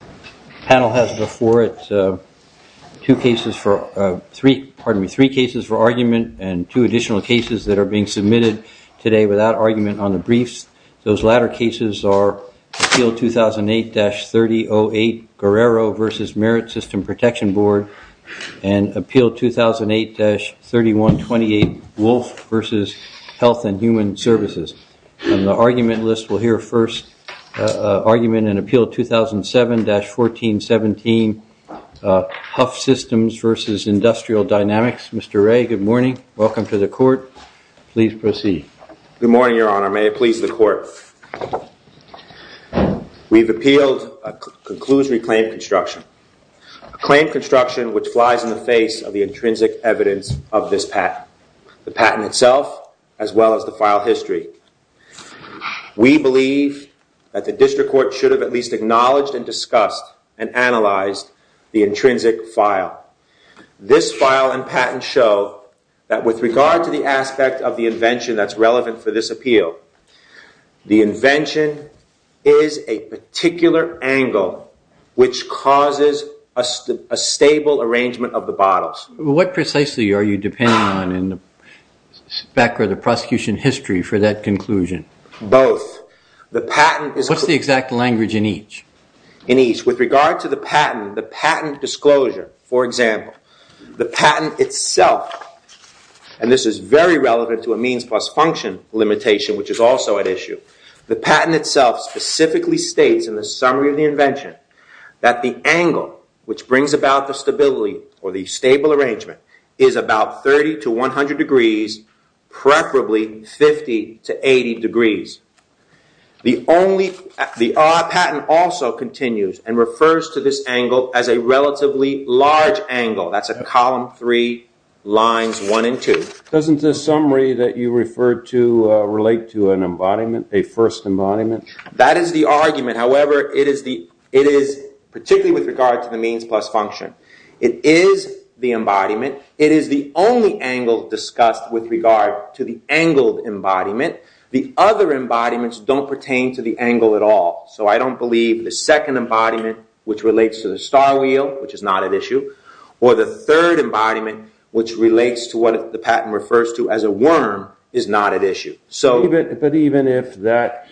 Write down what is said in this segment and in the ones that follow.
The panel has before it three cases for argument and two additional cases that are being submitted today without argument on the briefs. Those latter cases are Appeal 2008-3008 Guerrero v. Merit System Protection Board and Appeal 2008-3128 Wolf v. Health and Human Services. On the argument list, we'll hear first argument in Appeal 2007-1417 Huff Systems v. Industrial Dynamics. Mr. Ray, good morning. Welcome to the court. Please proceed. Good morning, Your Honor. May it please the court. We've appealed a conclusory claim construction, a claim construction which flies in the face of the intrinsic evidence of this patent. The patent itself as well as the file history. We believe that the district court should have at least acknowledged and discussed and analyzed the intrinsic file. This file and patent show that with regard to the aspect of the invention that's relevant for this appeal, the invention is a particular angle which causes a stable arrangement of the bottles. What precisely are you depending on in the spec or the prosecution history for that conclusion? Both. The patent is... What's the exact language in each? In each. With regard to the patent, the patent disclosure, for example, the patent itself, and this is very relevant to a means plus function limitation which is also at issue, the patent itself specifically states in the summary of the invention that the angle which brings about the stability or the stable arrangement is about 30 to 100 degrees, preferably 50 to 80 degrees. The patent also continues and refers to this angle as a relatively large angle. That's a column three, lines one and two. Doesn't the summary that you referred to relate to an embodiment, a first embodiment? That is the argument. However, it is particularly with regard to the means plus function. It is the embodiment. It is the only angle discussed with regard to the angled embodiment. The other embodiments don't pertain to the angle at all. So I don't believe the second embodiment which relates to the star wheel, which is not at issue, or the third embodiment which relates to what the patent refers to as a worm is not at issue. But even if that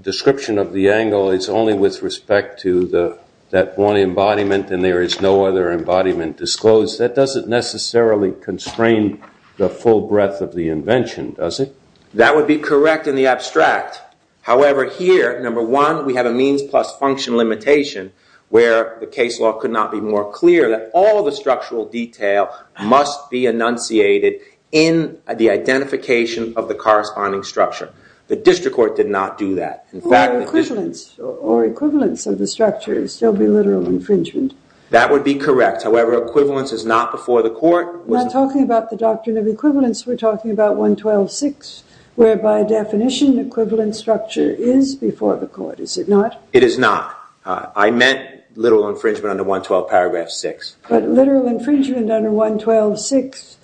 description of the angle is only with respect to that one embodiment and there is no other embodiment disclosed, that doesn't necessarily constrain the full breadth of the invention, does it? That would be correct in the abstract. However, here, number one, we have a means plus function limitation where the case law could not be more clear that all the structural detail must be enunciated in the identification of the corresponding structure. The district court did not do that. Or equivalence. Or equivalence of the structure. It would still be literal infringement. That would be correct. However, equivalence is not before the court. We're not talking about the doctrine of equivalence. We're talking about 112.6, where by definition, equivalent structure is before the court. Is it not? It is not. I meant literal infringement under 112.6. But literal infringement under 112.6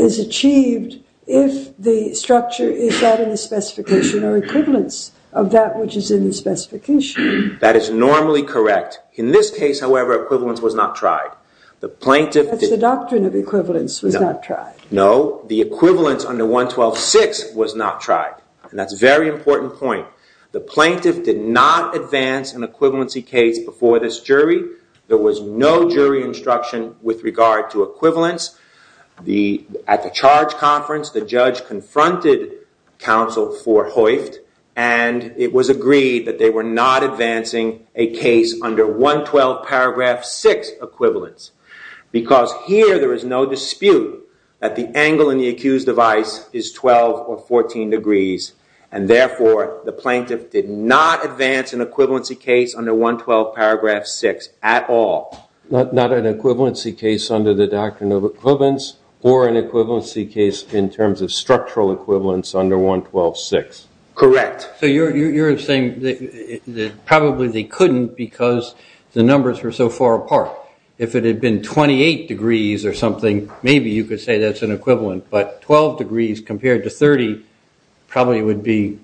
is achieved if the structure is that in the specification or equivalence of that which is in the specification. That is normally correct. In this case, however, equivalence was not tried. That's the doctrine of equivalence, was not tried. No. The equivalence under 112.6 was not tried. And that's a very important point. The plaintiff did not advance an equivalency case before this jury. There was no jury instruction with regard to equivalence. At the charge conference, the judge confronted counsel for Hoyft. And it was agreed that they were not advancing a case under 112.6 equivalence. Because here there is no dispute that the angle in the accused device is 12 or 14 degrees. And therefore, the plaintiff did not advance an equivalency case under 112.6 at all. Not an equivalency case under the doctrine of equivalence or an equivalency case in terms of structural equivalence under 112.6. Correct. So you're saying that probably they couldn't because the numbers were so far apart. If it had been 28 degrees or something, maybe you could say that's an equivalent. But 12 degrees compared to 30 probably would be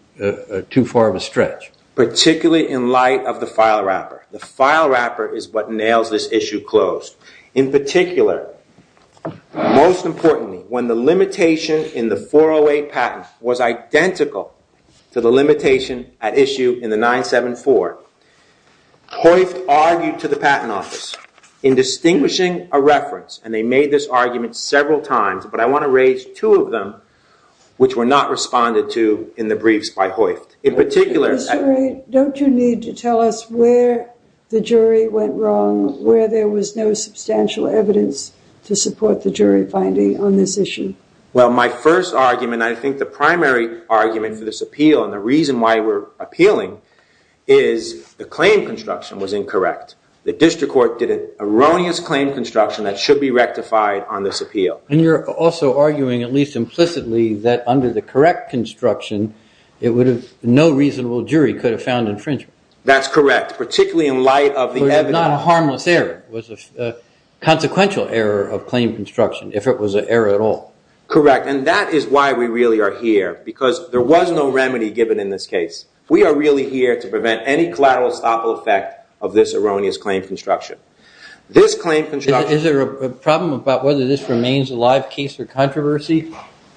too far of a stretch. Particularly in light of the file wrapper. The file wrapper is what nails this issue closed. In particular, most importantly, when the limitation in the 408 patent was identical to the limitation at issue in the 974, Hoyft argued to the patent office in distinguishing a reference. And they made this argument several times. But I want to raise two of them, which were not responded to in the briefs by Hoyft. In particular, I... Don't you need to tell us where the jury went wrong, where there was no substantial evidence to support the jury finding on this issue? Well, my first argument, I think the primary argument for this appeal, and the reason why we're appealing, is the claim construction was incorrect. The district court did an erroneous claim construction that should be rectified on this appeal. And you're also arguing, at least implicitly, that under the correct construction, it would have... no reasonable jury could have found infringement. That's correct. Particularly in light of the evidence... It was not a harmless error. It was a consequential error of claim construction, if it was an error at all. Correct. And that is why we really are here. Because there was no remedy given in this case. We are really here to prevent any collateral estoppel effect of this erroneous claim construction. This claim construction... Is there a problem about whether this remains a live case or controversy?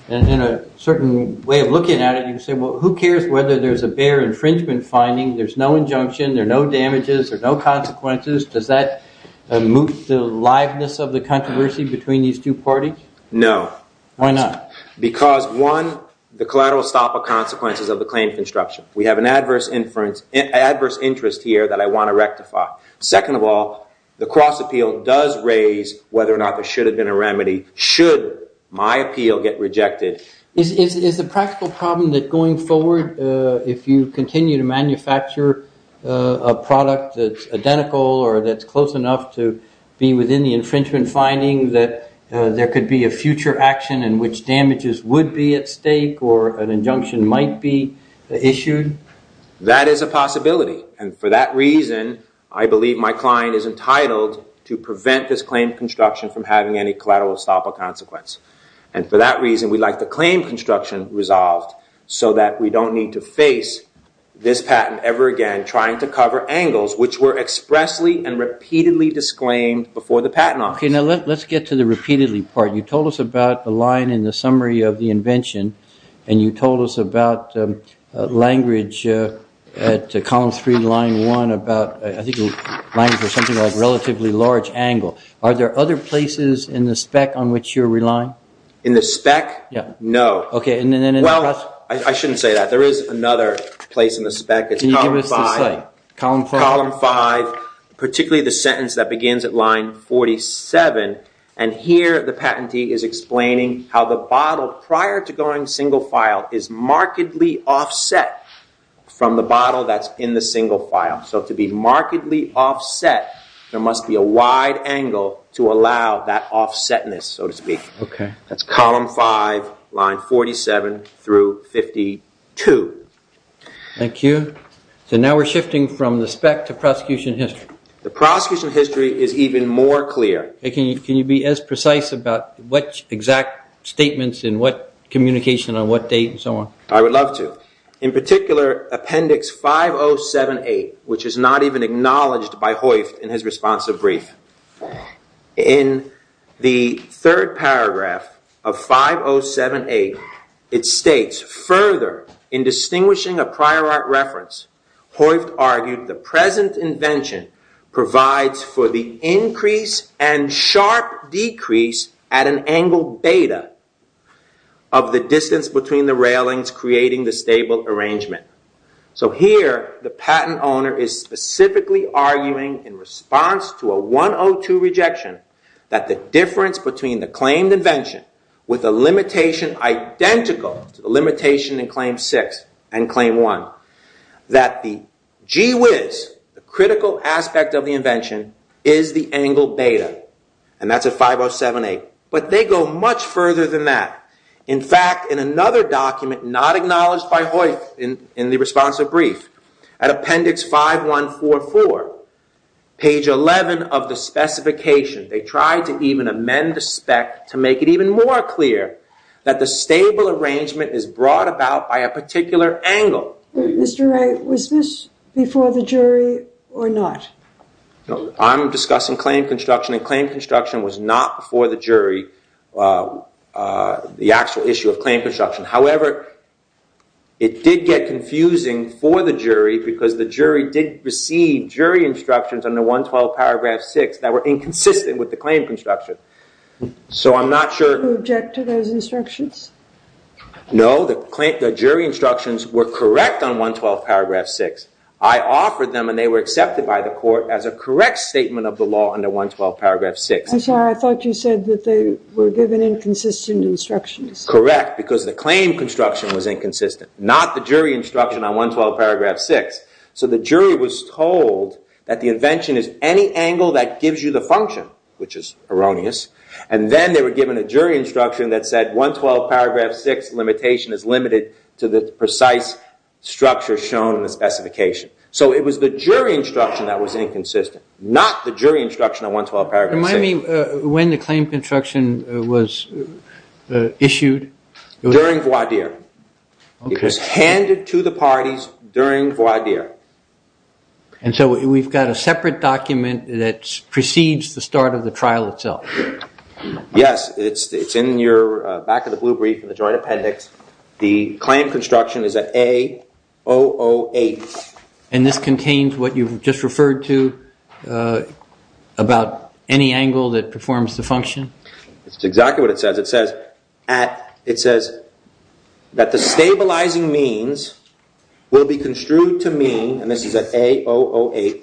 And in a certain way of looking at it, you say, well, who cares whether there's a bare infringement finding? There's no injunction. There are no damages. There are no consequences. Does that move the liveness of the controversy between these two parties? No. Why not? Because, one, the collateral estoppel consequences of the claim construction. We have an adverse interest here that I want to rectify. Second of all, the cross appeal does raise whether or not there should have been a remedy, should my appeal get rejected. Is the practical problem that going forward, if you continue to manufacture a product that's identical or that's close enough to be within the infringement finding, there could be a future action in which damages would be at stake or an injunction might be issued? That is a possibility. And for that reason, I believe my client is entitled to prevent this claim construction from having any collateral estoppel consequence. And for that reason, we'd like the claim construction resolved so that we don't need to face this patent ever again trying to cover angles which were expressly and repeatedly disclaimed before the patent office. Okay, now let's get to the repeatedly part. You told us about the line in the summary of the invention and you told us about language at column 3, line 1, about, I think, language or something like relatively large angle. Are there other places in the spec on which you're relying? In the spec? No. Okay, and then in the cross? Well, I shouldn't say that. There is another place in the spec. It's column 5. Can you give us the site? Column 5. Particularly the sentence that begins at line 47. And here the patentee is explaining how the bottle prior to going single file is markedly offset from the bottle that's in the single file. So to be markedly offset, there must be a wide angle to allow that offsetness, so to speak. That's column 5, line 47 through 52. Thank you. So now we're shifting from the spec to prosecution history. The prosecution history is even more clear. Can you be as precise about what exact statements and what communication on what date and so on? I would love to. In particular, appendix 5078, which is not even acknowledged by Hoyft in his responsive brief. In the third paragraph of 5078, it states, Further, in distinguishing a prior art reference, Hoyft argued the present invention provides for the increase and sharp decrease at an angle beta of the distance between the railings creating the stable arrangement. So here, the patent owner is specifically arguing in response to a 102 rejection that the difference between the claimed invention with a limitation identical to the limitation in claim 6 and claim 1, that the gee whiz, the critical aspect of the invention, is the angle beta. And that's at 5078. But they go much further than that. In fact, in another document not acknowledged by Hoyft in the responsive brief, at appendix 5144, page 11 of the specification, they tried to even amend the spec to make it even more clear that the stable arrangement is brought about by a particular angle. Mr. Wright, was this before the jury or not? I'm discussing claim construction, and claim construction was not before the jury. The actual issue of claim construction. However, it did get confusing for the jury because the jury did receive jury instructions under 112 paragraph 6 that were inconsistent with the claim construction. So I'm not sure. Do you object to those instructions? No, the jury instructions were correct on 112 paragraph 6. I offered them and they were accepted by the court as a correct statement of the law under 112 paragraph 6. I'm sorry, I thought you said that they were given inconsistent instructions. Correct, because the claim construction was inconsistent, not the jury instruction on 112 paragraph 6. So the jury was told that the invention is any angle that gives you the function, which is erroneous, and then they were given a jury instruction that said 112 paragraph 6 limitation is limited to the precise structure shown in the specification. So it was the jury instruction that was inconsistent, not the jury instruction on 112 paragraph 6. Remind me when the claim construction was issued. During voir dire. It was handed to the parties during voir dire. And so we've got a separate document that precedes the start of the trial itself. Yes, it's in your back of the blue brief in the joint appendix. The claim construction is at A008. And this contains what you've just referred to about any angle that performs the function? That's exactly what it says. It says that the stabilizing means will be construed to mean, and this is at A008,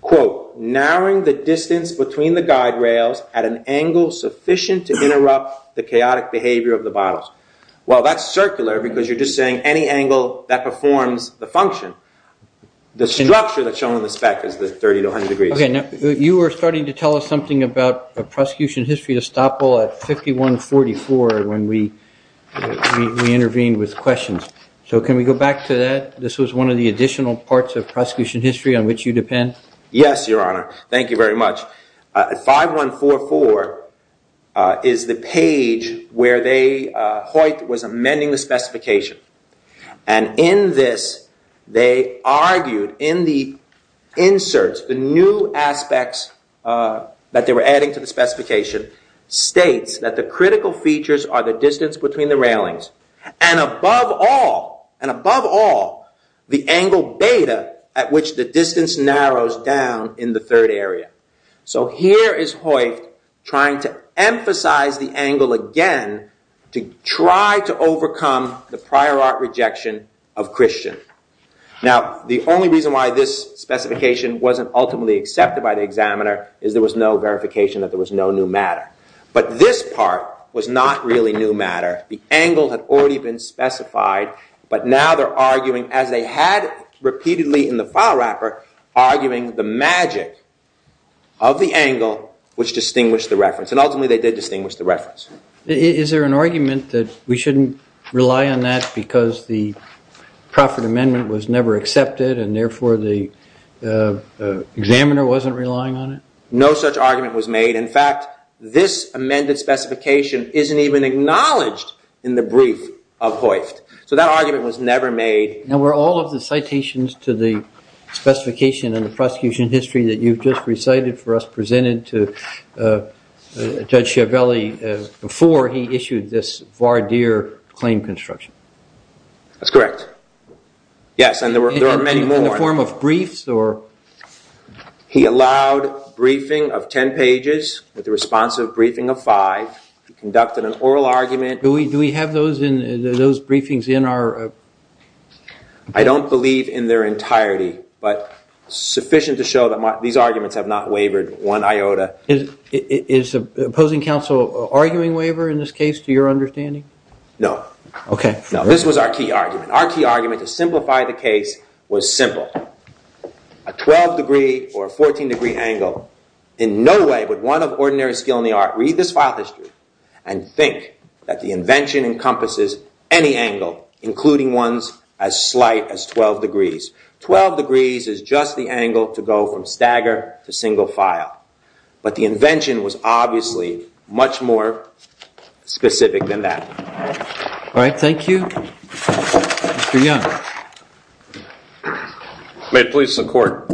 quote, narrowing the distance between the guide rails at an angle sufficient to interrupt the chaotic behavior of the bottles. Well, that's circular because you're just saying any angle that performs the function. The structure that's shown in the spec is the 30 to 100 degrees. Okay. You were starting to tell us something about a prosecution history estoppel at 5144 when we intervened with questions. So can we go back to that? This was one of the additional parts of prosecution history on which you depend? Yes, Your Honor. Thank you very much. 5144 is the page where Hoyt was amending the specification. And in this, they argued in the inserts, the new aspects that they were adding to the specification states that the critical features are the distance between the railings, and above all, the angle beta at which the distance narrows down in the third area. So here is Hoyt trying to emphasize the angle again to try to overcome the prior art rejection of Christian. Now, the only reason why this specification wasn't ultimately accepted by the examiner is there was no verification that there was no new matter. But this part was not really new matter. The angle had already been specified, but now they're arguing, as they had repeatedly in the file wrapper, arguing the magic of the angle which distinguished the reference. And ultimately, they did distinguish the reference. Is there an argument that we shouldn't rely on that because the proffered amendment was never accepted and therefore the examiner wasn't relying on it? No such argument was made. In fact, this amended specification isn't even acknowledged in the brief of Hoyt. So that argument was never made. Now, were all of the citations to the specification in the prosecution history that you've just recited for us presented to Judge Chiavelli before he issued this voir dire claim construction? That's correct. Yes, and there were many more. In the form of briefs or? He allowed briefing of 10 pages with a responsive briefing of five. He conducted an oral argument. Do we have those briefings in our? I don't believe in their entirety, but sufficient to show that these arguments have not wavered one iota. Is opposing counsel arguing waver in this case to your understanding? No. Okay. No, this was our key argument. Our key argument to simplify the case was simple. A 12 degree or a 14 degree angle in no way would one of ordinary skill in the art read this file history and think that the invention encompasses any angle, including ones as slight as 12 degrees. 12 degrees is just the angle to go from stagger to single file, but the invention was obviously much more specific than that. All right. Thank you. Mr. Young. May it please the court.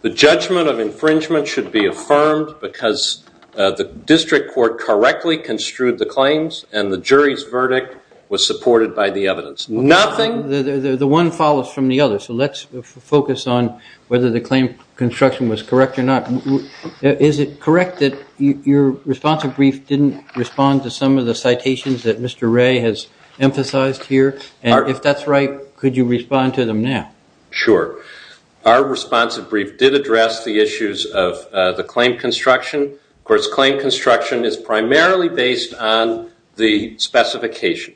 The judgment of infringement should be affirmed because the district court correctly construed the claims and the jury's verdict was supported by the evidence. Nothing? The one follows from the other, so let's focus on whether the claim construction was correct or not. Is it correct that your responsive brief didn't respond to some of the citations that Mr. Ray has emphasized here? And if that's right, could you respond to them now? Sure. Our responsive brief did address the issues of the claim construction. Of course, claim construction is primarily based on the specification,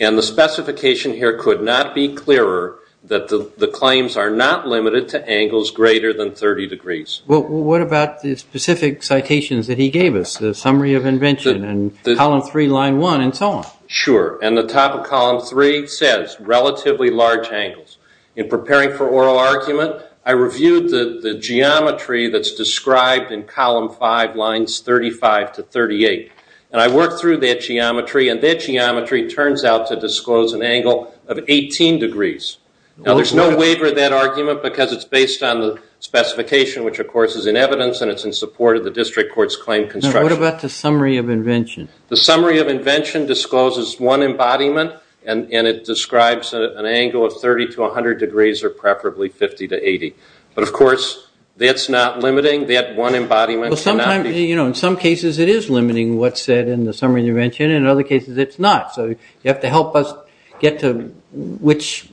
and the specification here could not be clearer that the claims are not limited to angles greater than 30 degrees. Well, what about the specific citations that he gave us, the summary of invention and column 3, line 1, and so on? Sure. And the top of column 3 says relatively large angles. In preparing for oral argument, I reviewed the geometry that's described in column 5, lines 35 to 38, and I worked through that geometry, and that geometry turns out to disclose an angle of 18 degrees. Now, there's no waiver of that argument because it's based on the specification, which, of course, is in evidence, and it's in support of the district court's claim construction. Now, what about the summary of invention? The summary of invention discloses one embodiment, and it describes an angle of 30 to 100 degrees or preferably 50 to 80. But, of course, that's not limiting, that one embodiment. In some cases, it is limiting what's said in the summary of invention. In other cases, it's not. So you have to help us get to which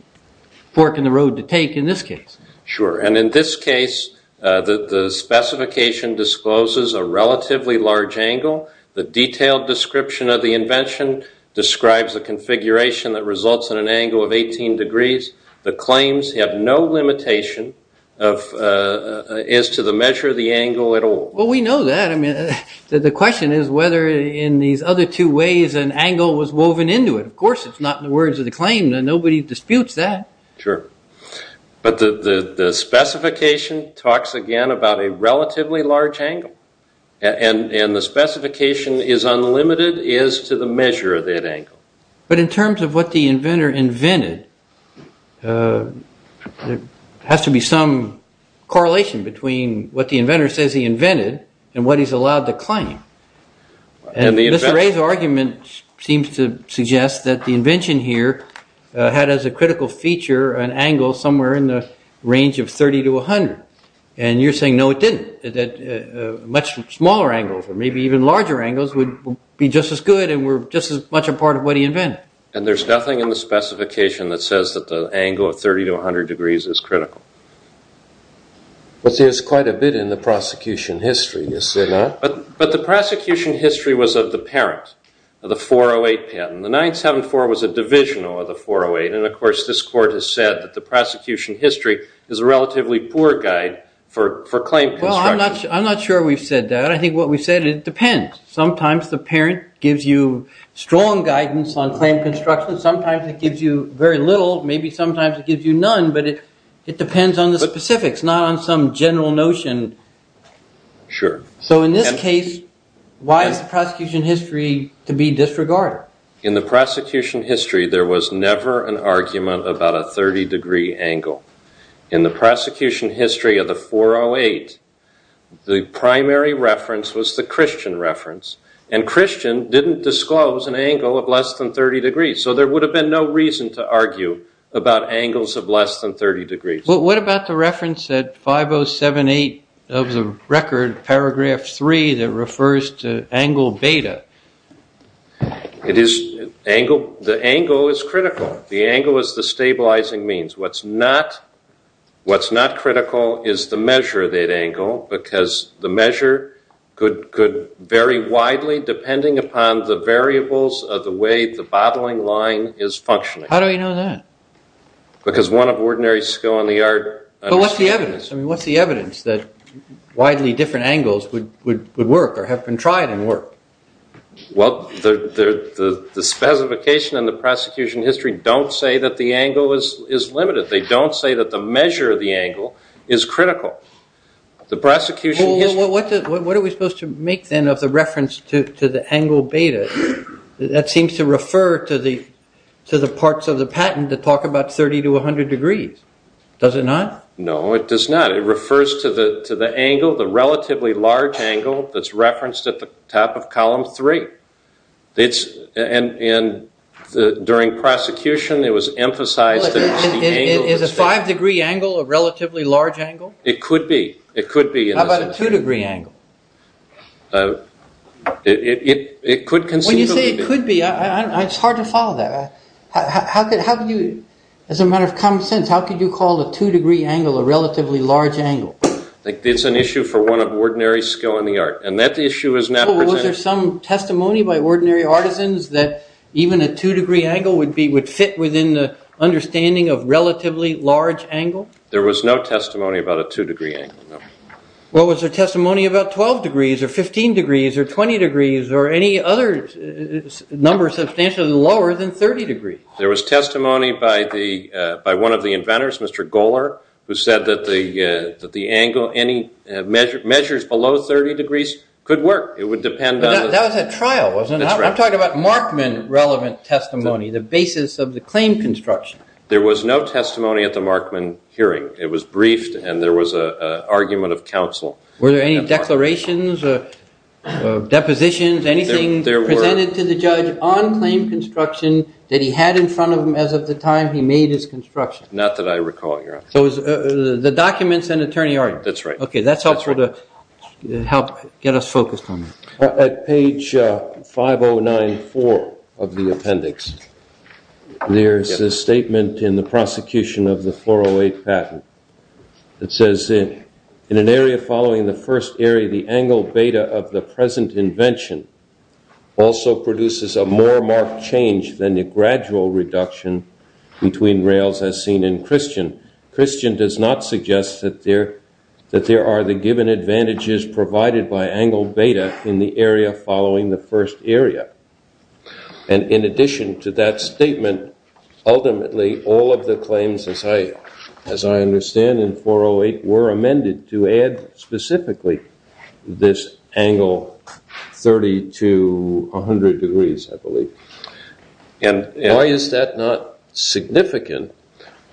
fork in the road to take in this case. Sure, and in this case, the specification discloses a relatively large angle. The detailed description of the invention describes a configuration that results in an angle of 18 degrees. The claims have no limitation as to the measure of the angle at all. Well, we know that. I mean, the question is whether in these other two ways an angle was woven into it. Of course, it's not in the words of the claim. Nobody disputes that. Sure, but the specification talks, again, about a relatively large angle, and the specification is unlimited as to the measure of that angle. But in terms of what the inventor invented, there has to be some correlation between what the inventor says he invented and what he's allowed to claim. And Mr. Ray's argument seems to suggest that the invention here had as a critical feature an angle somewhere in the range of 30 to 100. And you're saying, no, it didn't, that much smaller angles or maybe even larger angles would be just as good and were just as much a part of what he invented. And there's nothing in the specification that says that the angle of 30 to 100 degrees is critical. But there's quite a bit in the prosecution history, is there not? But the prosecution history was of the parent of the 408 patent. The 974 was a divisional of the 408, and, of course, this court has said that the prosecution history is a relatively poor guide for claim construction. Well, I'm not sure we've said that. I think what we've said is it depends. Sometimes the parent gives you strong guidance on claim construction. Sometimes it gives you very little. Maybe sometimes it gives you none, but it depends on the specifics, not on some general notion. Sure. So in this case, why is the prosecution history to be disregarded? In the prosecution history, there was never an argument about a 30 degree angle. In the prosecution history of the 408, the primary reference was the Christian reference, and Christian didn't disclose an angle of less than 30 degrees. So there would have been no reason to argue about angles of less than 30 degrees. Well, what about the reference at 5078 of the record, paragraph 3, that refers to angle beta? The angle is critical. The angle is the stabilizing means. What's not critical is the measure of that angle, because the measure could vary widely depending upon the variables of the way the bottling line is functioning. How do we know that? Because one of ordinary skill in the art. But what's the evidence? I mean, what's the evidence that widely different angles would work or have been tried and worked? Well, the specification in the prosecution history don't say that the angle is limited. They don't say that the measure of the angle is critical. The prosecution history- Well, what are we supposed to make, then, of the reference to the angle beta? That seems to refer to the parts of the patent that talk about 30 to 100 degrees. Does it not? No, it does not. It refers to the angle, the relatively large angle that's referenced at the top of column 3. And during prosecution, it was emphasized that it's the angle- Is a 5-degree angle a relatively large angle? It could be. How about a 2-degree angle? It could conceivably be. When you say it could be, it's hard to follow that. As a matter of common sense, how could you call a 2-degree angle a relatively large angle? It's an issue for one of ordinary skill in the art. And that issue is not presented- So was there some testimony by ordinary artisans that even a 2-degree angle would fit within the understanding of relatively large angle? There was no testimony about a 2-degree angle, no. Well, was there testimony about 12 degrees or 15 degrees or 20 degrees or any other number substantially lower than 30 degrees? There was testimony by one of the inventors, Mr. Goler, who said that the angle, any measures below 30 degrees could work. It would depend on- But that was a trial, wasn't it? That's right. I'm talking about Markman-relevant testimony, the basis of the claim construction. There was no testimony at the Markman hearing. It was briefed, and there was an argument of counsel. Were there any declarations, depositions, anything presented to the judge on claim construction that he had in front of him as of the time he made his construction? Not that I recall, Your Honor. So the documents and attorney are- That's right. Okay, that helps to get us focused on that. At page 5094 of the appendix, there's a statement in the prosecution of the 408 patent. It says, in an area following the first area, the angle beta of the present invention also produces a more marked change than the gradual reduction between rails as seen in Christian. Christian does not suggest that there are the given advantages provided by angle beta in the area following the first area. And in addition to that statement, ultimately, all of the claims, as I understand in 408, were amended to add specifically this angle 30 to 100 degrees, I believe. Why is that not significant?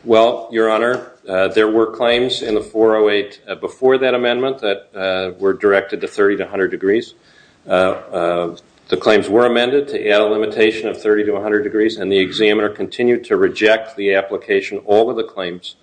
Well, Your Honor, there were claims in the 408 before that amendment that were directed to 30 to 100 degrees. The claims were amended to add a limitation of 30 to 100 degrees, and the examiner continued to reject the application of all of the claims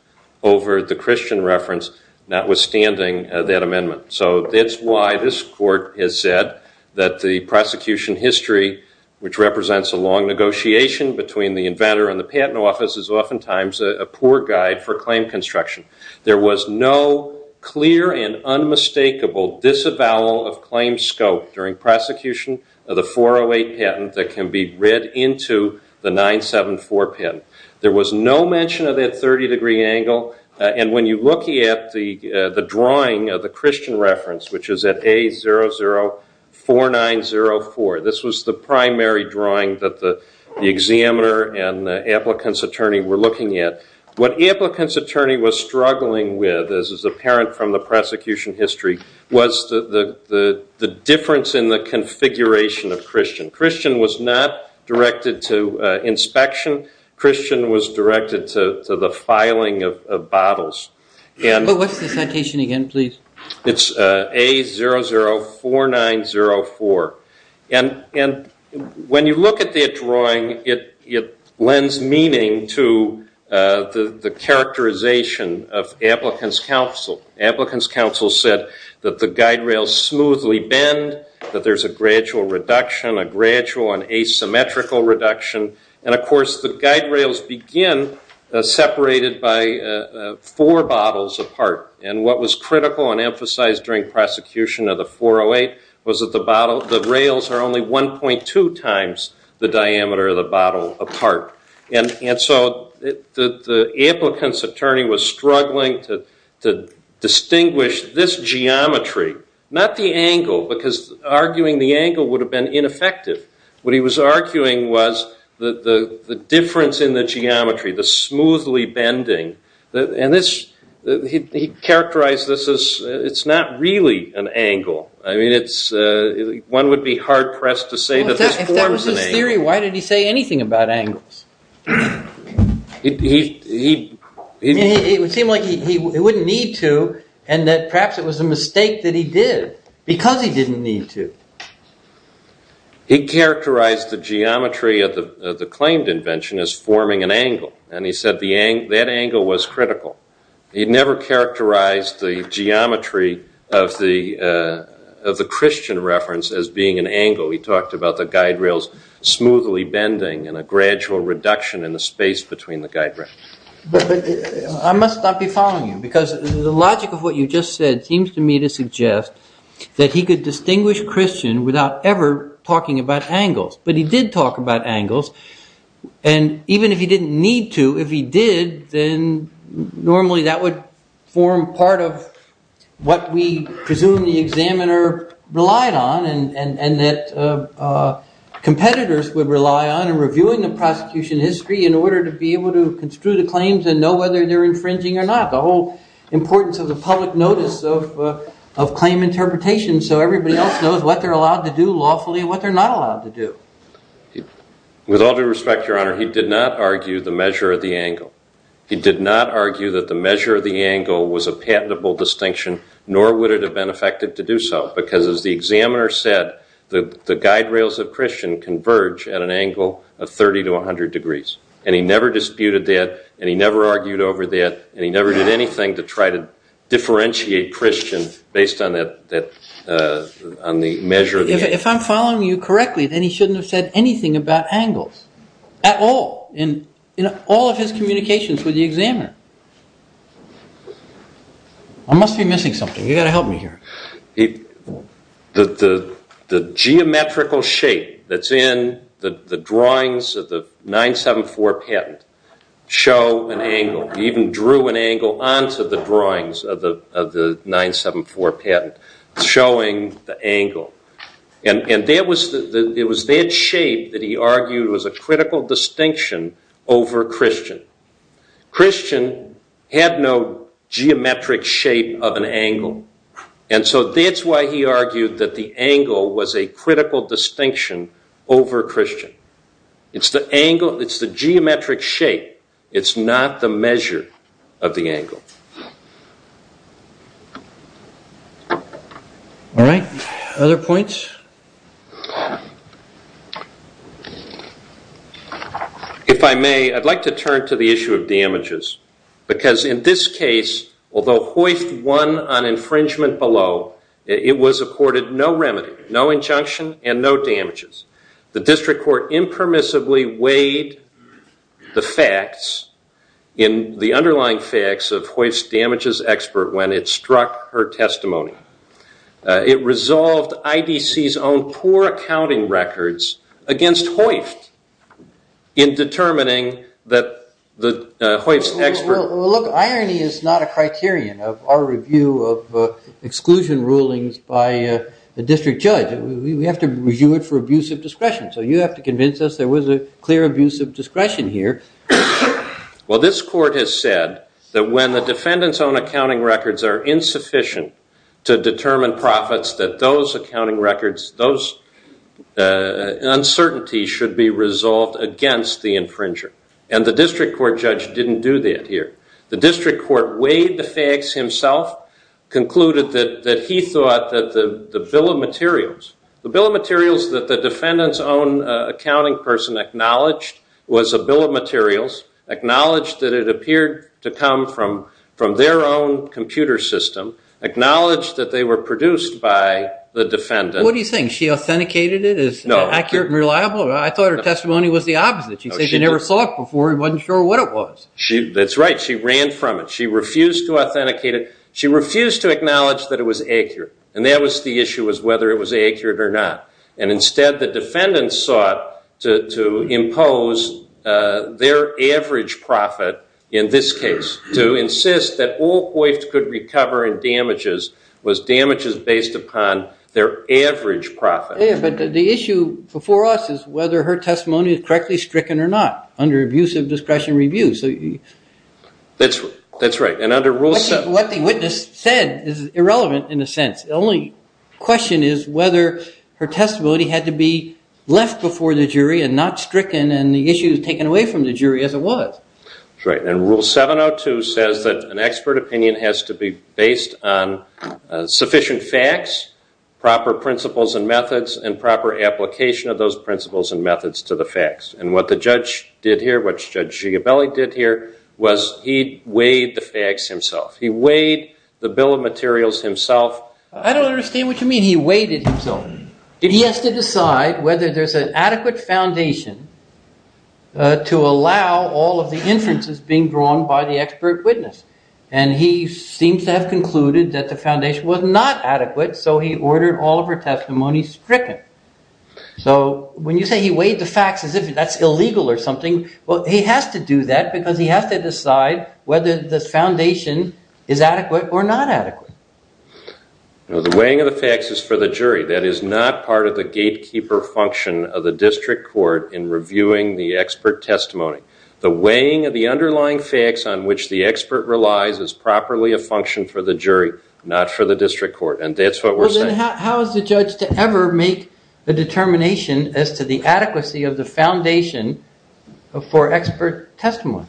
over the Christian reference, notwithstanding that amendment. So that's why this court has said that the prosecution history, which represents a long negotiation between the inventor and the patent office, is oftentimes a poor guide for claim construction. There was no clear and unmistakable disavowal of claim scope during prosecution of the 408 patent that can be read into the 974 patent. There was no mention of that 30 degree angle. And when you look at the drawing of the Christian reference, which is at A004904, this was the primary drawing that the examiner and the applicant's attorney were looking at, what the applicant's attorney was struggling with, as is apparent from the prosecution history, was the difference in the configuration of Christian. Christian was not directed to inspection. Christian was directed to the filing of bottles. What's the citation again, please? It's A004904. And when you look at that drawing, it lends meaning to the characterization of applicant's counsel. Applicant's counsel said that the guide rails smoothly bend, that there's a gradual reduction, a gradual and asymmetrical reduction. And of course, the guide rails begin separated by four bottles apart. And what was critical and emphasized during prosecution of the 408 was that the rails are only 1.2 times the diameter of the bottle apart. And so the applicant's attorney was struggling to distinguish this geometry, not the angle, because arguing the angle would have been ineffective. What he was arguing was the difference in the geometry, the smoothly bending. And he characterized this as it's not really an angle. I mean, one would be hard pressed to say that this forms an angle. Jerry, why did he say anything about angles? It would seem like he wouldn't need to, and that perhaps it was a mistake that he did, because he didn't need to. He characterized the geometry of the claimed invention as forming an angle. And he said that angle was critical. He never characterized the geometry of the Christian reference as being an angle. He talked about the guide rails smoothly bending and a gradual reduction in the space between the guide rails. I must not be following you, because the logic of what you just said seems to me to suggest that he could distinguish Christian without ever talking about angles. But he did talk about angles. And even if he didn't need to, if he did, then normally that would form part of what we presume the examiner relied on. And that competitors would rely on in reviewing the prosecution history in order to be able to construe the claims and know whether they're infringing or not. The whole importance of the public notice of claim interpretation so everybody else knows what they're allowed to do lawfully and what they're not allowed to do. With all due respect, Your Honor, he did not argue the measure of the angle. He did not argue that the measure of the angle was a patentable distinction, nor would it have been effective to do so. Because as the examiner said, the guide rails of Christian converge at an angle of 30 to 100 degrees. And he never disputed that, and he never argued over that, and he never did anything to try to differentiate Christian based on the measure of the angle. If I'm following you correctly, then he shouldn't have said anything about angles at all in all of his communications with the examiner. I must be missing something. You've got to help me here. The geometrical shape that's in the drawings of the 974 patent show an angle. He even drew an angle onto the drawings of the 974 patent showing the angle. And it was that shape that he argued was a critical distinction over Christian. Christian had no geometric shape of an angle. And so that's why he argued that the angle was a critical distinction over Christian. It's the geometric shape. It's not the measure of the angle. All right. Other points? If I may, I'd like to turn to the issue of damages. Because in this case, although Hoyst won on infringement below, it was accorded no remedy, no injunction, and no damages. The district court impermissibly weighed the facts in the underlying facts of Hoyst's damages expert when it struck her testimony. It resolved IDC's own poor accounting records against Hoyst in determining that Hoyst's expert- Look, irony is not a criterion of our review of exclusion rulings by the district judge. We have to review it for abuse of discretion. So you have to convince us there was a clear abuse of discretion here. Well, this court has said that when the defendant's own accounting records are insufficient to determine profits, that those accounting records, those uncertainties should be resolved against the infringer. And the district court judge didn't do that here. The district court weighed the facts himself, concluded that he thought that the bill of materials- Acknowledged that it appeared to come from their own computer system. Acknowledged that they were produced by the defendant. What do you think? She authenticated it as accurate and reliable? I thought her testimony was the opposite. She said she never saw it before and wasn't sure what it was. That's right. She ran from it. She refused to authenticate it. She refused to acknowledge that it was accurate. And that was the issue, was whether it was accurate or not. And instead, the defendant sought to impose their average profit in this case, to insist that all hoists could recover in damages was damages based upon their average profit. Yeah, but the issue before us is whether her testimony is correctly stricken or not under abuse of discretion review. That's right. And under Rule 7- What the witness said is irrelevant, in a sense. The only question is whether her testimony had to be left before the jury and not stricken and the issue taken away from the jury as it was. That's right. And Rule 7-02 says that an expert opinion has to be based on sufficient facts, proper principles and methods, and proper application of those principles and methods to the facts. And what the judge did here, what Judge Gigabelli did here, was he weighed the facts himself. He weighed the bill of materials himself. I don't understand what you mean he weighted himself. He has to decide whether there's an adequate foundation to allow all of the inferences being drawn by the expert witness. And he seems to have concluded that the foundation was not adequate, so he ordered all of her testimony stricken. So when you say he weighed the facts as if that's illegal or something, well, he has to do that because he has to decide whether the foundation is adequate or not adequate. The weighing of the facts is for the jury. That is not part of the gatekeeper function of the district court in reviewing the expert testimony. The weighing of the underlying facts on which the expert relies is properly a function for the jury, not for the district court, and that's what we're saying. But how is the judge to ever make a determination as to the adequacy of the foundation for expert testimony?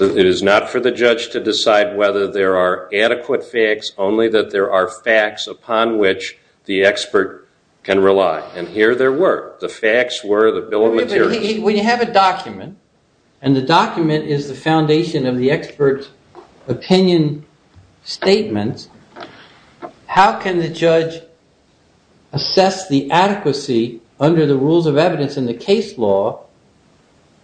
It is not for the judge to decide whether there are adequate facts, only that there are facts upon which the expert can rely. And here there were. The facts were the bill of materials. When you have a document and the document is the foundation of the expert's opinion statements, how can the judge assess the adequacy under the rules of evidence in the case law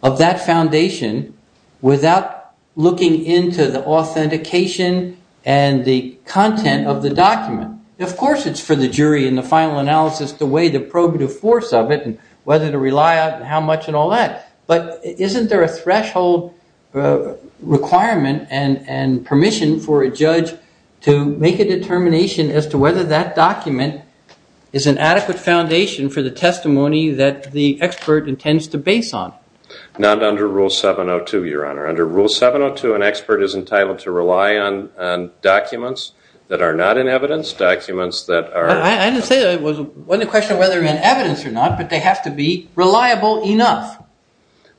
of that foundation without looking into the authentication and the content of the document? Of course it's for the jury in the final analysis to weigh the probative force of it and whether to rely on it and how much and all that. But isn't there a threshold requirement and permission for a judge to make a determination as to whether that document is an adequate foundation for the testimony that the expert intends to base on? Not under Rule 702, Your Honor. Under Rule 702, an expert is entitled to rely on documents that are not in evidence, documents that are- I didn't say that. It wasn't a question of whether they're in evidence or not, but they have to be reliable enough.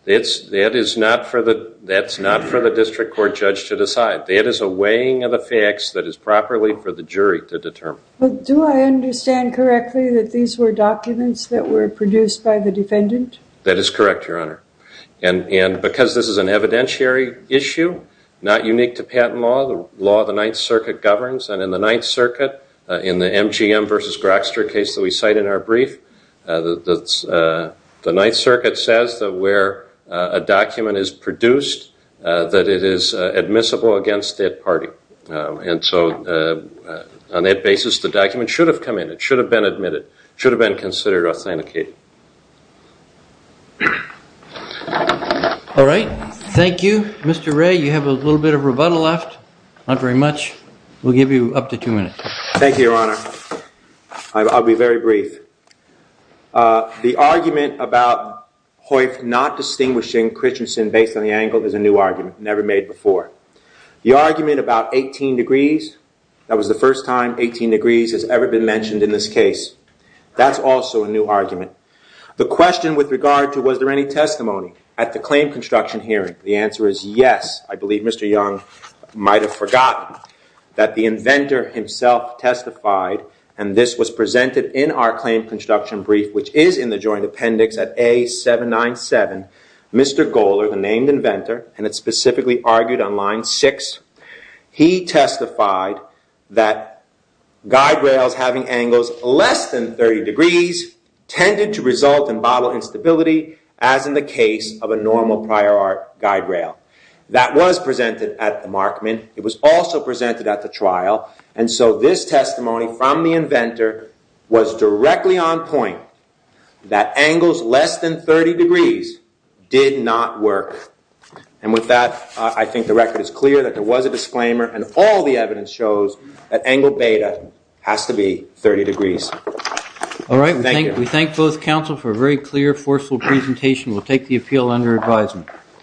That is not for the district court judge to decide. That is a weighing of the facts that is properly for the jury to determine. But do I understand correctly that these were documents that were produced by the defendant? That is correct, Your Honor. And because this is an evidentiary issue, not unique to patent law, the law of the Ninth Circuit governs. And in the Ninth Circuit, in the MGM versus Grokster case that we cite in our brief, the Ninth Circuit says that where a document is produced, that it is admissible against that party. And so on that basis, the document should have come in. It should have been admitted. It should have been considered authenticated. All right. Thank you. Mr. Ray, you have a little bit of rebuttal left. Not very much. We'll give you up to two minutes. Thank you, Your Honor. I'll be very brief. The argument about Hoyf not distinguishing Christensen based on the angle is a new argument, never made before. The argument about 18 degrees, that was the first time 18 degrees has ever been mentioned in this case, that's also a new argument. The question with regard to was there any testimony at the claim construction hearing, the answer is yes. I believe Mr. Young might have forgotten that the inventor himself testified, and this was presented in our claim construction brief, which is in the joint appendix at A797, Mr. Goeller, the named inventor, and it's specifically argued on line 6, he testified that guide rails having angles less than 30 degrees tended to result in bottle instability, as in the case of a normal prior art guide rail. That was presented at the Markman. It was also presented at the trial. And so this testimony from the inventor was directly on point, that angles less than 30 degrees did not work. And with that, I think the record is clear that there was a disclaimer, and all the evidence shows that angle beta has to be 30 degrees. All right. We thank both counsel for a very clear, forceful presentation. We'll take the appeal under advisement.